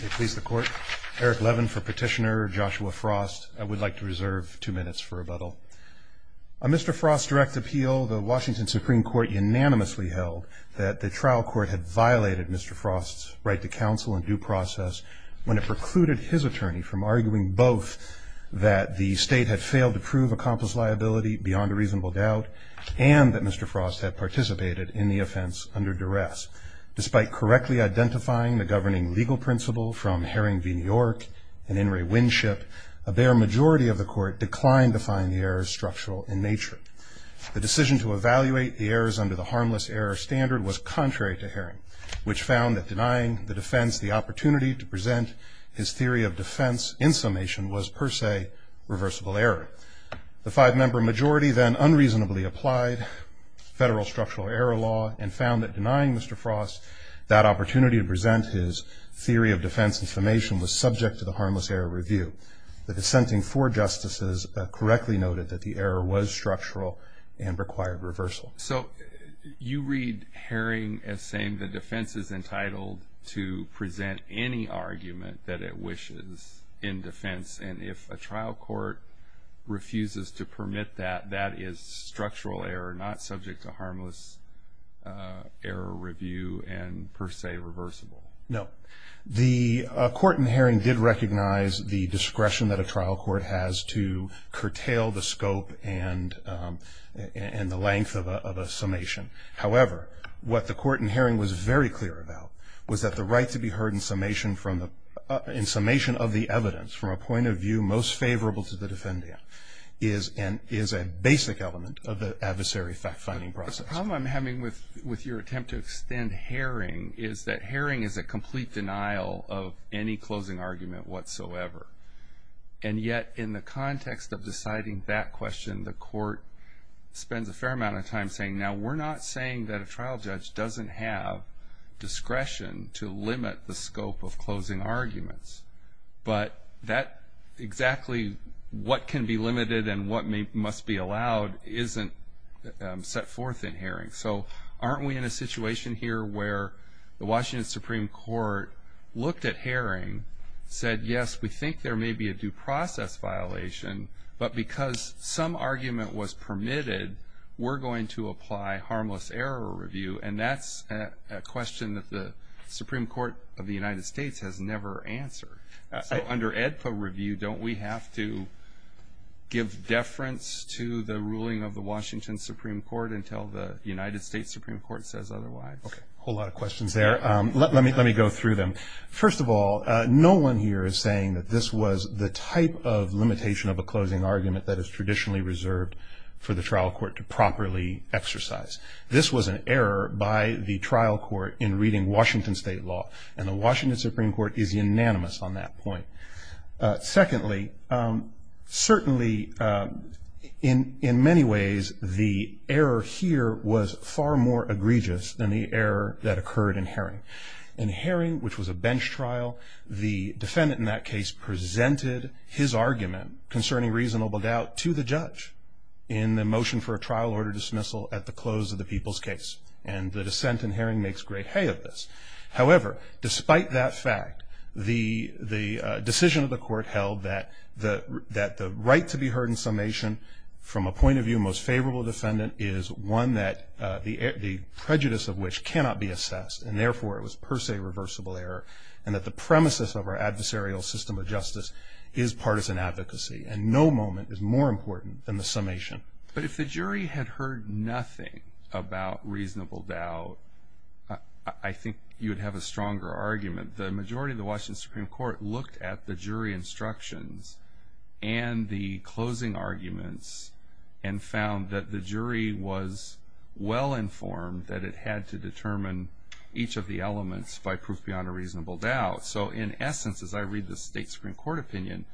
May it please the court, Eric Levin for petitioner, Joshua Frost. I would like to reserve two minutes for rebuttal. On Mr. Frost's direct appeal, the Washington Supreme Court unanimously held that the trial court had violated Mr. Frost's right to counsel in due process when it precluded his attorney from arguing both that the state had failed to prove accomplice liability beyond a reasonable doubt and that Mr. Frost had participated in the offense under duress. Despite correctly identifying the governing legal principle from Herring v. New York and In re Winship, a bare majority of the court declined to find the errors structural in nature. The decision to evaluate the errors under the harmless error standard was contrary to Herring, which found that denying the defense the opportunity to present his theory of defense in summation was per se reversible error. The five-member majority then unreasonably applied federal structural error law and found that denying Mr. Frost that opportunity to present his theory of defense in summation was subject to the harmless error review. The dissenting four justices correctly noted that the error was structural and required reversal. So you read Herring as saying the defense is entitled to present any argument that it wishes in defense and if a trial court refuses to permit that, that is structural error, not subject to harmless error review and per se reversible. No. The court in Herring did recognize the discretion that a trial court has to curtail the scope and the length of a summation. However, what the court in Herring was very clear about was that the right to be heard in summation of the evidence, from a point of view most favorable to the defendant, is a basic element of the adversary fact-finding process. The problem I'm having with your attempt to extend Herring is that Herring is a complete denial of any closing argument whatsoever. And yet in the context of deciding that question, the court spends a fair amount of time saying, now we're not saying that a trial judge doesn't have discretion to limit the scope of closing arguments, but that exactly what can be limited and what must be allowed isn't set forth in Herring. So aren't we in a situation here where the Washington Supreme Court looked at Herring, said, yes, we think there may be a due process violation, but because some argument was permitted, we're going to apply harmless error review, and that's a question that the Supreme Court of the United States has never answered. So under AEDPA review, don't we have to give deference to the ruling of the Washington Supreme Court until the United States Supreme Court says otherwise? Okay. A whole lot of questions there. Let me go through them. First of all, no one here is saying that this was the type of limitation of a closing argument that is traditionally reserved for the trial court to properly exercise. This was an error by the trial court in reading Washington state law, and the Washington Supreme Court is unanimous on that point. Secondly, certainly in many ways, the error here was far more egregious than the error that occurred in Herring. In Herring, which was a bench trial, the defendant in that case presented his argument concerning reasonable doubt to the judge in the motion for a trial order dismissal at the close of the people's case, and the dissent in Herring makes great hay of this. However, despite that fact, the decision of the court held that the right to be heard in summation, from a point of view most favorable to the defendant, is one that the prejudice of which cannot be assessed, and therefore it was per se reversible error, and that the premises of our adversarial system of justice is partisan advocacy, and no moment is more important than the summation. But if the jury had heard nothing about reasonable doubt, I think you would have a stronger argument. The majority of the Washington Supreme Court looked at the jury instructions and the closing arguments and found that the jury was well informed that it had to determine each of the elements by proof beyond a reasonable doubt. So in essence, as I read the State Supreme Court opinion,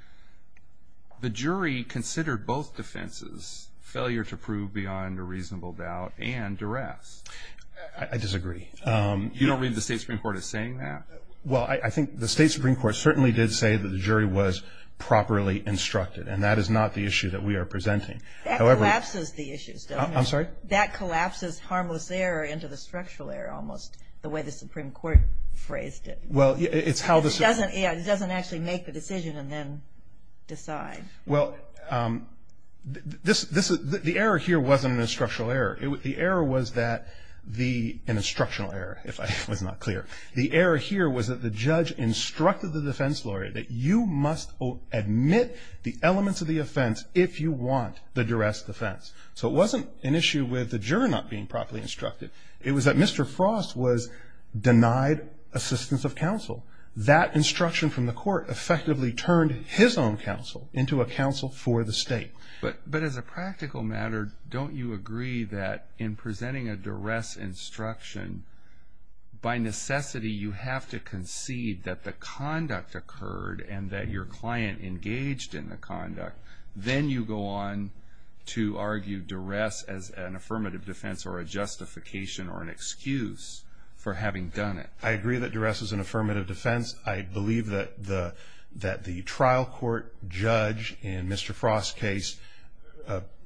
the jury considered both defenses, failure to prove beyond a reasonable doubt and duress. I disagree. You don't read the State Supreme Court as saying that? Well, I think the State Supreme Court certainly did say that the jury was properly instructed, and that is not the issue that we are presenting. That collapses the issues, doesn't it? I'm sorry? That collapses harmless error into the structural error, almost, the way the Supreme Court phrased it. It doesn't actually make the decision and then decide. Well, the error here wasn't an instructional error. The error was that the – an instructional error, if I was not clear. The error here was that the judge instructed the defense lawyer that you must admit the elements of the offense if you want the duress defense. So it wasn't an issue with the juror not being properly instructed. It was that Mr. Frost was denied assistance of counsel. That instruction from the court effectively turned his own counsel into a counsel for the State. But as a practical matter, don't you agree that in presenting a duress instruction, by necessity you have to concede that the conduct occurred and that your client engaged in the conduct. Then you go on to argue duress as an affirmative defense or a justification or an excuse for having done it. I agree that duress is an affirmative defense. I believe that the trial court judge in Mr. Frost's case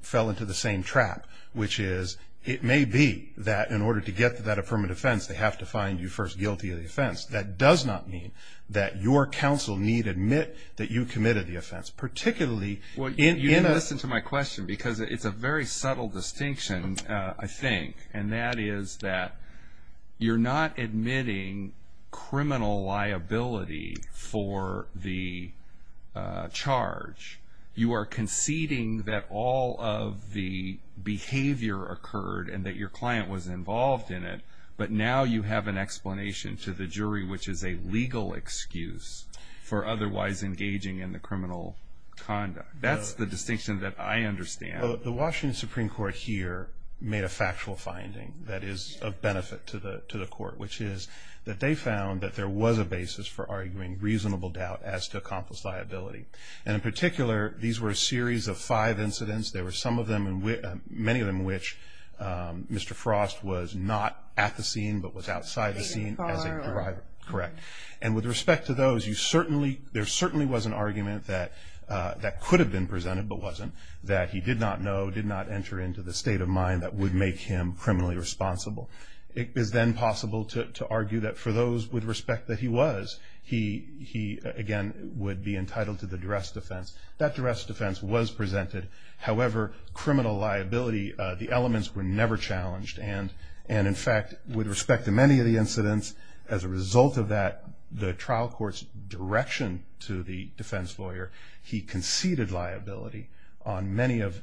fell into the same trap, which is it may be that in order to get that affirmative defense, they have to find you first guilty of the offense. That does not mean that your counsel need admit that you committed the offense, particularly in a – Well, you didn't listen to my question because it's a very subtle distinction, I think, and that is that you're not admitting criminal liability for the charge. You are conceding that all of the behavior occurred and that your client was involved in it, but now you have an explanation to the jury, which is a legal excuse for otherwise engaging in the criminal conduct. That's the distinction that I understand. The Washington Supreme Court here made a factual finding that is of benefit to the court, which is that they found that there was a basis for arguing reasonable doubt as to accomplice liability. And in particular, these were a series of five incidents. There were some of them, many of them in which Mr. Frost was not at the scene, but was outside the scene as a driver. And with respect to those, there certainly was an argument that could have been presented, but wasn't, that he did not know, did not enter into the state of mind that would make him criminally responsible. It is then possible to argue that for those with respect that he was, he again would be entitled to the duress defense. That duress defense was presented. However, criminal liability, the elements were never challenged. And in fact, with respect to many of the incidents, as a result of that, the trial court's direction to the defense lawyer, he conceded liability on many of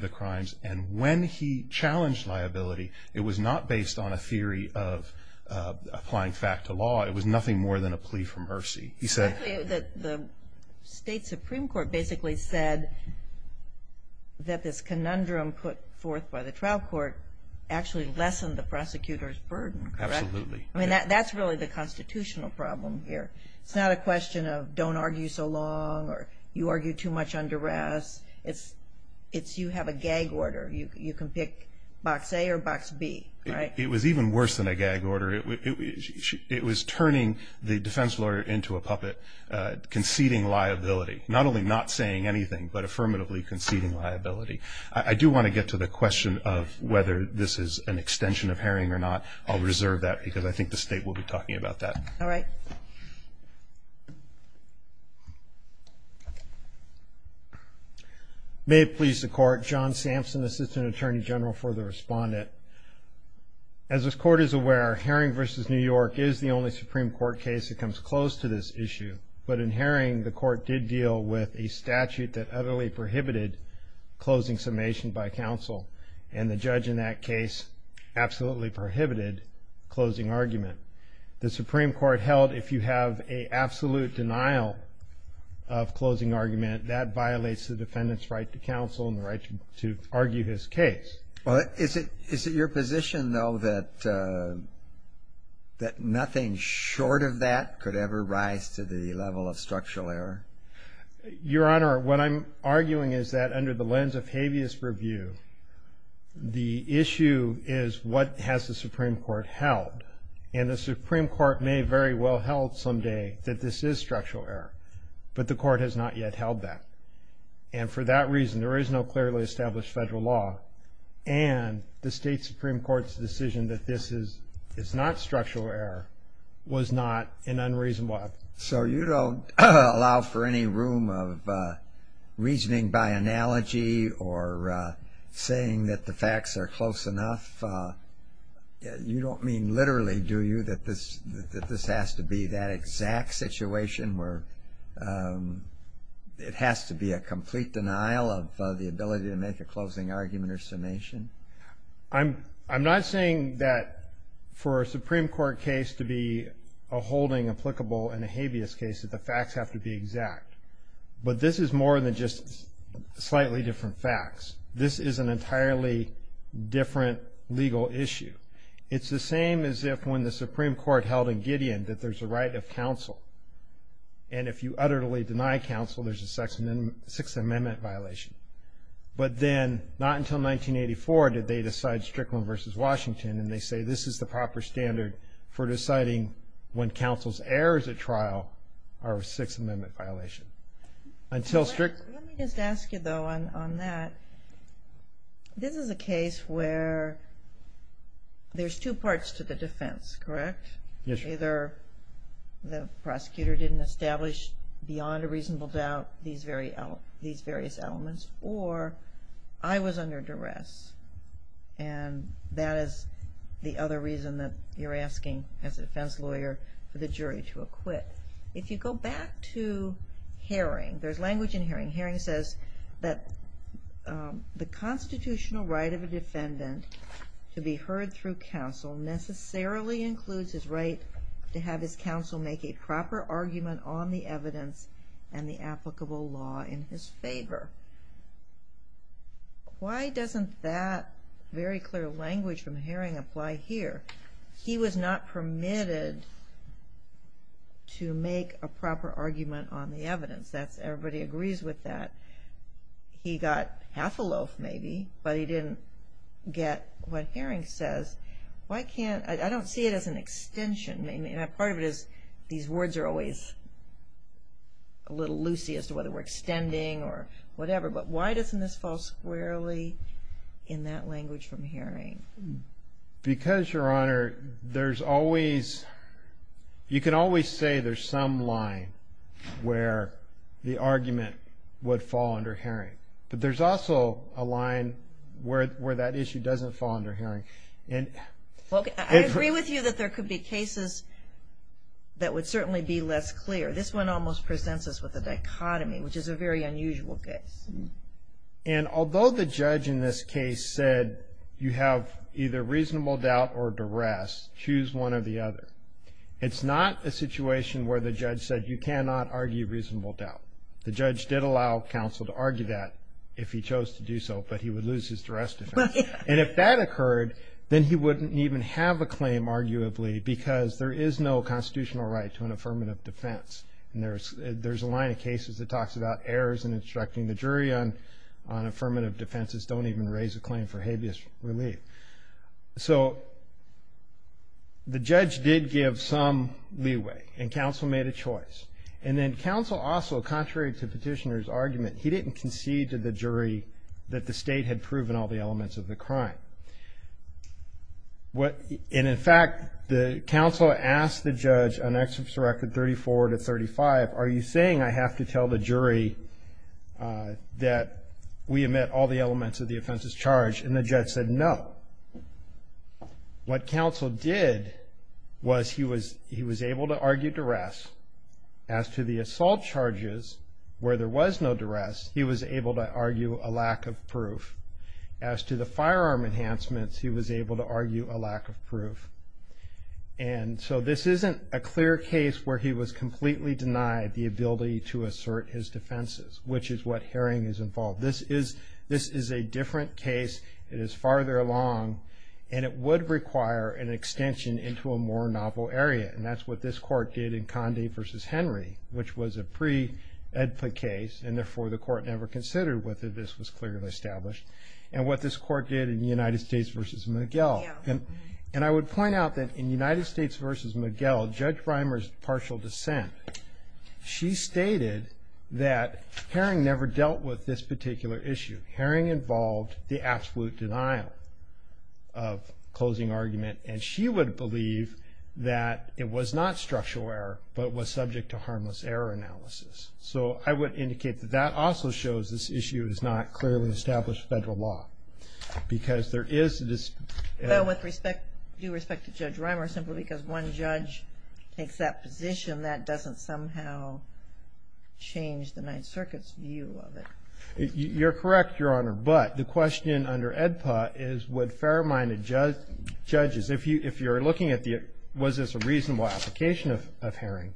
the crimes. And when he challenged liability, it was not based on a theory of applying fact to law. It was nothing more than a plea for mercy. He said... Actually, the state supreme court basically said that this conundrum put forth by the trial court actually lessened the prosecutor's burden, correct? Absolutely. I mean, that's really the constitutional problem here. It's not a question of don't argue so long or you argue too much under arrest. It's you have a gag order. You can pick box A or box B, right? It was even worse than a gag order. It was turning the defense lawyer into a puppet, conceding liability. Not only not saying anything, but affirmatively conceding liability. I do want to get to the question of whether this is an extension of Herring or not. I'll reserve that because I think the state will be talking about that. All right. May it please the Court. John Sampson, Assistant Attorney General for the Respondent. As this Court is aware, Herring v. New York is the only Supreme Court case that comes close to this issue. But in Herring, the Court did deal with a statute that utterly prohibited closing summation by counsel. And the judge in that case absolutely prohibited closing argument. The Supreme Court held if you have an absolute denial of closing argument, that violates the defendant's right to counsel and the right to argue his case. Is it your position, though, that nothing short of that could ever rise to the level of structural error? Your Honor, what I'm arguing is that under the lens of habeas purview, the issue is what has the Supreme Court held. And the Supreme Court may very well held someday that this is structural error. But the Court has not yet held that. And for that reason, there is no clearly established federal law. And the state Supreme Court's decision that this is not structural error was not an unreasonable act. So you don't allow for any room of reasoning by analogy or saying that the facts are close enough? You don't mean literally, do you, that this has to be that exact situation where it has to be a complete denial of the ability to make a closing argument or summation? I'm not saying that for a Supreme Court case to be a holding applicable in a habeas case, that the facts have to be exact. But this is more than just slightly different facts. This is an entirely different legal issue. It's the same as if when the Supreme Court held in Gideon that there's a right of counsel. And if you utterly deny counsel, there's a Sixth Amendment violation. But then not until 1984 did they decide Strickland v. Washington, and they say this is the proper standard for deciding when counsel's errors at trial are a Sixth Amendment violation. Let me just ask you, though, on that. This is a case where there's two parts to the defense, correct? Yes, Your Honor. Either the prosecutor didn't establish beyond a reasonable doubt these various elements, or I was under duress, and that is the other reason that you're asking, as a defense lawyer, for the jury to acquit. If you go back to Haring, there's language in Haring. Haring says that the constitutional right of a defendant to be heard through counsel necessarily includes his right to have his counsel make a proper argument on the evidence and the applicable law in his favor. Why doesn't that very clear language from Haring apply here? He was not permitted to make a proper argument on the evidence. Everybody agrees with that. He got half a loaf, maybe, but he didn't get what Haring says. I don't see it as an extension. Part of it is these words are always a little loosey as to whether we're extending or whatever, but why doesn't this fall squarely in that language from Haring? Because, Your Honor, there's always you can always say there's some line where the argument would fall under Haring, but there's also a line where that issue doesn't fall under Haring. I agree with you that there could be cases that would certainly be less clear. This one almost presents us with a dichotomy, which is a very unusual case. And although the judge in this case said you have either reasonable doubt or duress, choose one or the other, it's not a situation where the judge said you cannot argue reasonable doubt. The judge did allow counsel to argue that if he chose to do so, but he would lose his duress defense. And if that occurred, then he wouldn't even have a claim, arguably, because there is no constitutional right to an affirmative defense. And there's a line of cases that talks about errors in instructing the jury on affirmative defenses. Don't even raise a claim for habeas relief. So the judge did give some leeway, and counsel made a choice. And then counsel also, contrary to the petitioner's argument, he didn't concede to the jury that the state had proven all the elements of the crime. And in fact, the counsel asked the judge on Exhibits Record 34 to 35, are you saying I have to tell the jury that we omit all the elements of the offense's charge? And the judge said no. What counsel did was he was able to argue duress. As to the assault charges, where there was no duress, he was able to argue a lack of proof. As to the firearm enhancements, he was able to argue a lack of proof. And so this isn't a clear case where he was completely denied the ability to assert his defenses, which is what Haring is involved. This is a different case. It is farther along, and it would require an extension into a more novel area. And that's what this court did in Conde v. Henry, which was a pre-Edford case, and therefore the court never considered whether this was clearly established, and what this court did in United States v. McGill. And I would point out that in United States v. McGill, Judge Reimer's partial dissent, she stated that Haring never dealt with this particular issue. Haring involved the absolute denial of closing argument, and she would believe that it was not structural error, but was subject to harmless error analysis. So I would indicate that that also shows this issue is not clearly established federal law, because there is this ---- Well, with due respect to Judge Reimer, simply because one judge takes that position, that doesn't somehow change the Ninth Circuit's view of it. You're correct, Your Honor, but the question under AEDPA is would fair-minded judges, if you're looking at was this a reasonable application of Haring,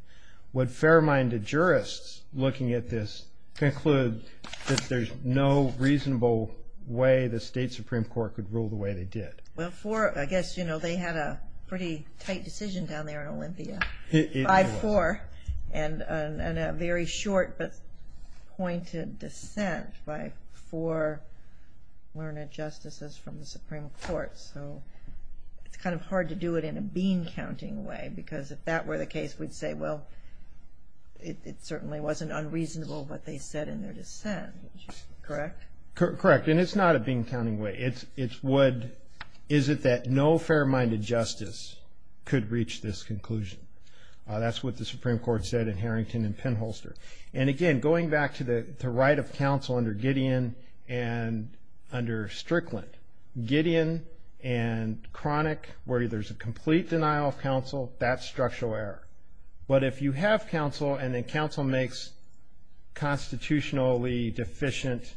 would fair-minded jurists, looking at this, conclude that there's no reasonable way the state Supreme Court could rule the way they did? Well, I guess they had a pretty tight decision down there in Olympia by four, and a very short but pointed dissent by four learned justices from the Supreme Court. So it's kind of hard to do it in a bean-counting way, because if that were the case, we'd say, well, it certainly wasn't unreasonable what they said in their dissent. Correct? Correct, and it's not a bean-counting way. It's what, is it that no fair-minded justice could reach this conclusion? That's what the Supreme Court said in Harrington and Penholster. And again, going back to the right of counsel under Gideon and under Strickland, Gideon and Cronick, where there's a complete denial of counsel, that's structural error. But if you have counsel and then counsel makes constitutionally deficient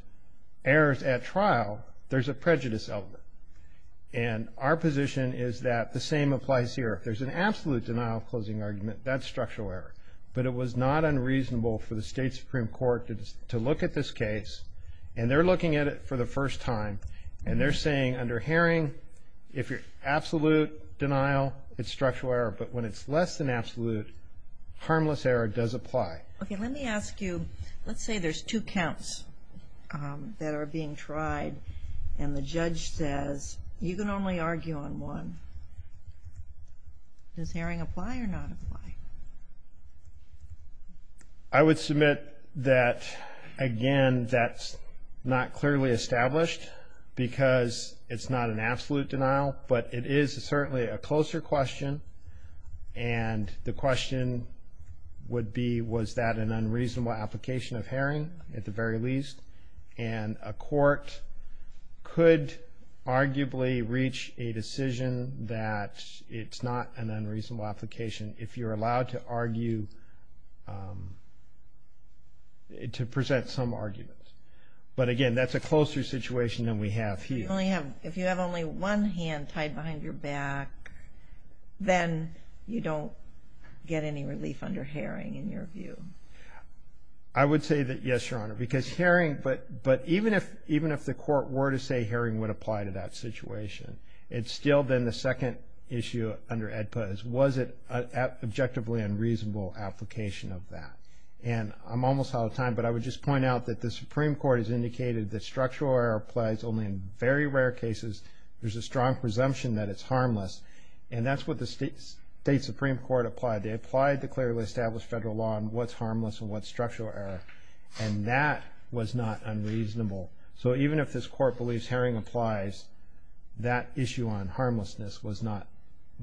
errors at trial, there's a prejudice element. And our position is that the same applies here. If there's an absolute denial of closing argument, that's structural error. But it was not unreasonable for the state Supreme Court to look at this case, and they're looking at it for the first time, and they're saying under Haring, if you're absolute denial, it's structural error. But when it's less than absolute, harmless error does apply. Okay, let me ask you, let's say there's two counts that are being tried, and the judge says, you can only argue on one. Does Haring apply or not apply? I would submit that, again, that's not clearly established because it's not an absolute denial, but it is certainly a closer question. And the question would be, was that an unreasonable application of Haring at the very least? And a court could arguably reach a decision that it's not an unreasonable application if you're allowed to argue, to present some arguments. But, again, that's a closer situation than we have here. If you have only one hand tied behind your back, then you don't get any relief under Haring in your view. I would say that, yes, Your Honor, because Haring, but even if the court were to say Haring would apply to that situation, it's still then the second issue under AEDPA is, was it an objectively unreasonable application of that? And I'm almost out of time, but I would just point out that the Supreme Court has indicated that structural error applies only in very rare cases. There's a strong presumption that it's harmless. And that's what the state Supreme Court applied. They applied the clearly established federal law on what's harmless and what's structural error. And that was not unreasonable. So even if this court believes Haring applies, that issue on harmlessness was not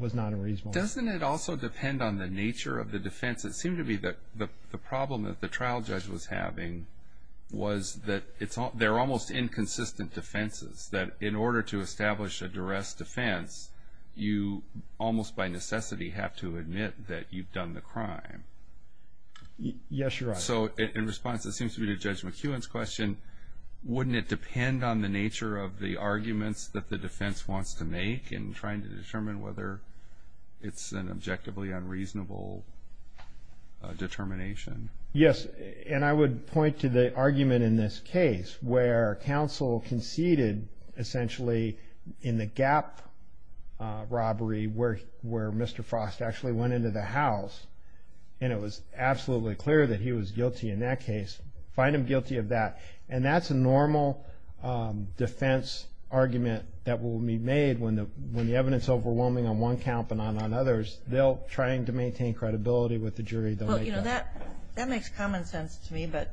unreasonable. Doesn't it also depend on the nature of the defense? It seemed to me that the problem that the trial judge was having was that they're almost inconsistent defenses, that in order to establish a duress defense, you almost by necessity have to admit that you've done the crime. Yes, Your Honor. So in response, it seems to me to Judge McEwen's question, wouldn't it depend on the nature of the arguments that the defense wants to make in trying to determine whether it's an objectively unreasonable determination? Yes, and I would point to the argument in this case where counsel conceded essentially in the Gap robbery where Mr. Frost actually went into the house and it was absolutely clear that he was guilty in that case. Find him guilty of that. And that's a normal defense argument that will be made when the evidence is overwhelming on one count but not on others. They'll try to maintain credibility with the jury. Well, you know, that makes common sense to me, but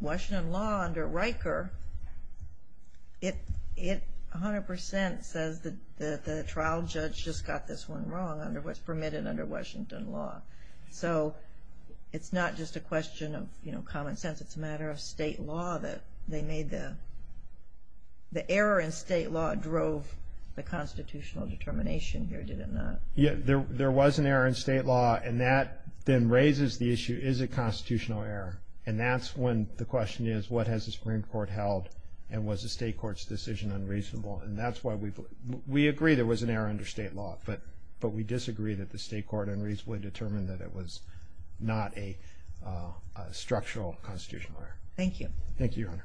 Washington law under Riker, it 100% says that the trial judge just got this one wrong, what's permitted under Washington law. So it's not just a question of common sense. It's a matter of state law that they made the error in state law drove the constitutional determination here, did it not? There was an error in state law, and that then raises the issue, is it constitutional error? And that's when the question is, what has the Supreme Court held and was the state court's decision unreasonable? And that's why we agree there was an error under state law, but we disagree that the state court unreasonably determined that it was not a structural constitutional error. Thank you. Thank you, Your Honor.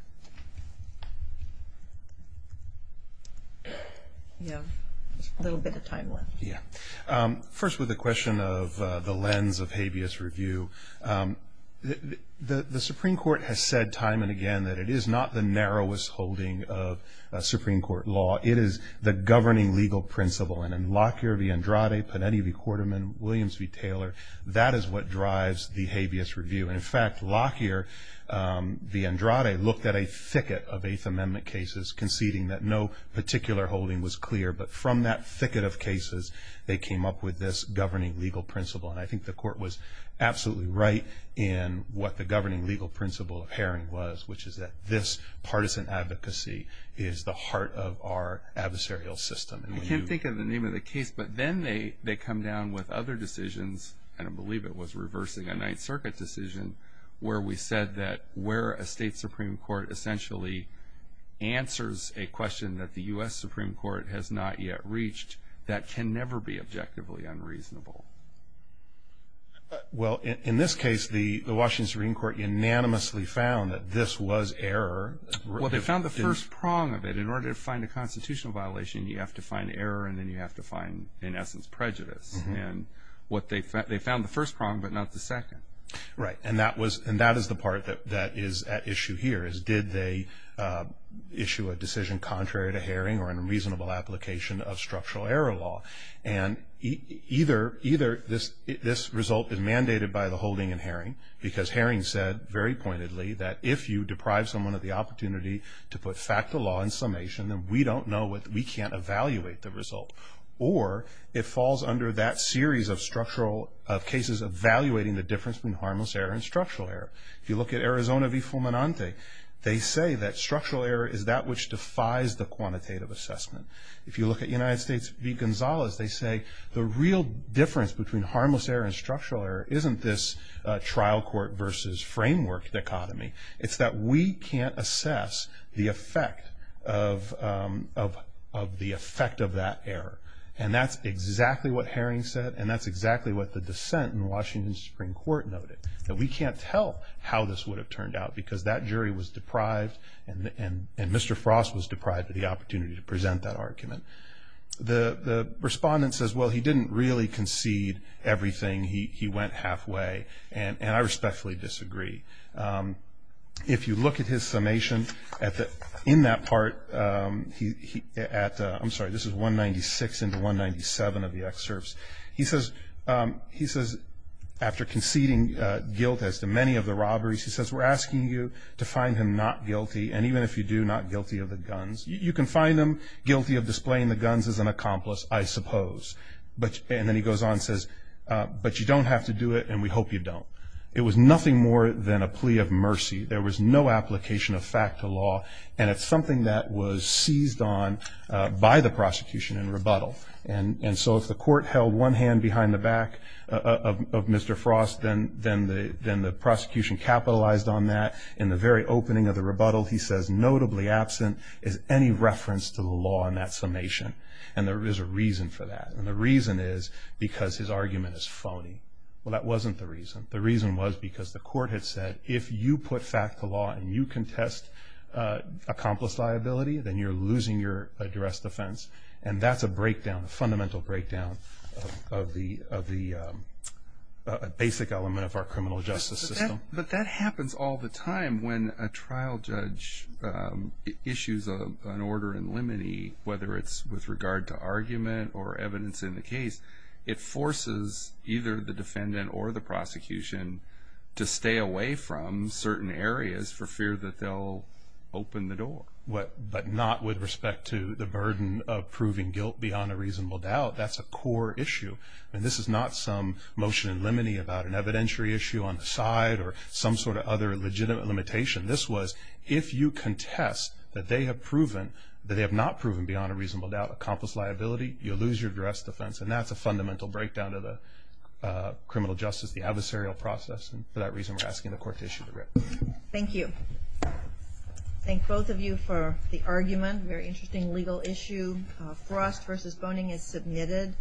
Yeah. A little bit of time left. Yeah. First, with the question of the lens of habeas review, the Supreme Court has said time and again that it is not the narrowest holding of Supreme Court law. It is the governing legal principle. And in Lockyer v. Andrade, Panetti v. Quarterman, Williams v. Taylor, that is what drives the habeas review. And, in fact, Lockyer v. Andrade looked at a thicket of Eighth Amendment cases conceding that no particular holding was clear. But from that thicket of cases, they came up with this governing legal principle. And I think the court was absolutely right in what the governing legal principle of Haring was, which is that this partisan advocacy is the heart of our adversarial system. I can't think of the name of the case, but then they come down with other decisions, and I believe it was reversing a Ninth Circuit decision, where we said that where a state Supreme Court essentially answers a question that the U.S. Supreme Court has not yet reached, that can never be objectively unreasonable. Well, in this case, the Washington Supreme Court unanimously found that this was error. Well, they found the first prong of it. In order to find a constitutional violation, you have to find error, and then you have to find, in essence, prejudice. And they found the first prong, but not the second. Right. And that is the part that is at issue here, is did they issue a decision contrary to Haring or in a reasonable application of structural error law. And either this result is mandated by the holding in Haring, because Haring said, very pointedly, that if you deprive someone of the opportunity to put fact to law in summation, then we don't know, we can't evaluate the result. Or it falls under that series of structural cases evaluating the difference between harmless error and structural error. If you look at Arizona v. Fulminante, they say that structural error is that which defies the quantitative assessment. If you look at United States v. Gonzalez, they say the real difference between harmless error and structural error isn't this trial court versus framework dichotomy. It's that we can't assess the effect of that error. And that's exactly what Haring said, and that's exactly what the dissent in the Washington Supreme Court noted, that we can't tell how this would have turned out, because that jury was deprived, and Mr. Frost was deprived of the opportunity to present that argument. The respondent says, well, he didn't really concede everything. He went halfway, and I respectfully disagree. If you look at his summation in that part, I'm sorry, this is 196 into 197 of the excerpts. He says, after conceding guilt as to many of the robberies, he says, we're asking you to find him not guilty, and even if you do, not guilty of the guns. You can find him guilty of displaying the guns as an accomplice, I suppose. And then he goes on and says, but you don't have to do it, and we hope you don't. It was nothing more than a plea of mercy. There was no application of fact to law, and it's something that was seized on by the prosecution in rebuttal. And so if the court held one hand behind the back of Mr. Frost, then the prosecution capitalized on that. In the very opening of the rebuttal, he says, notably absent is any reference to the law in that summation, and there is a reason for that, and the reason is because his argument is phony. Well, that wasn't the reason. The reason was because the court had said, if you put fact to law and you contest accomplice liability, then you're losing your addressed offense, and that's a breakdown, a fundamental breakdown, of the basic element of our criminal justice system. But that happens all the time. When a trial judge issues an order in limine, whether it's with regard to argument or evidence in the case, it forces either the defendant or the prosecution to stay away from certain areas for fear that they'll open the door. But not with respect to the burden of proving guilt beyond a reasonable doubt. That's a core issue. I mean, this is not some motion in limine about an evidentiary issue on the side or some sort of other legitimate limitation. This was if you contest that they have not proven beyond a reasonable doubt accomplice liability, you lose your addressed offense, and that's a fundamental breakdown of the criminal justice, the adversarial process, and for that reason we're asking the court to issue the writ. Thank you. Thank both of you for the argument. Very interesting legal issue. Frost v. Boning is submitted.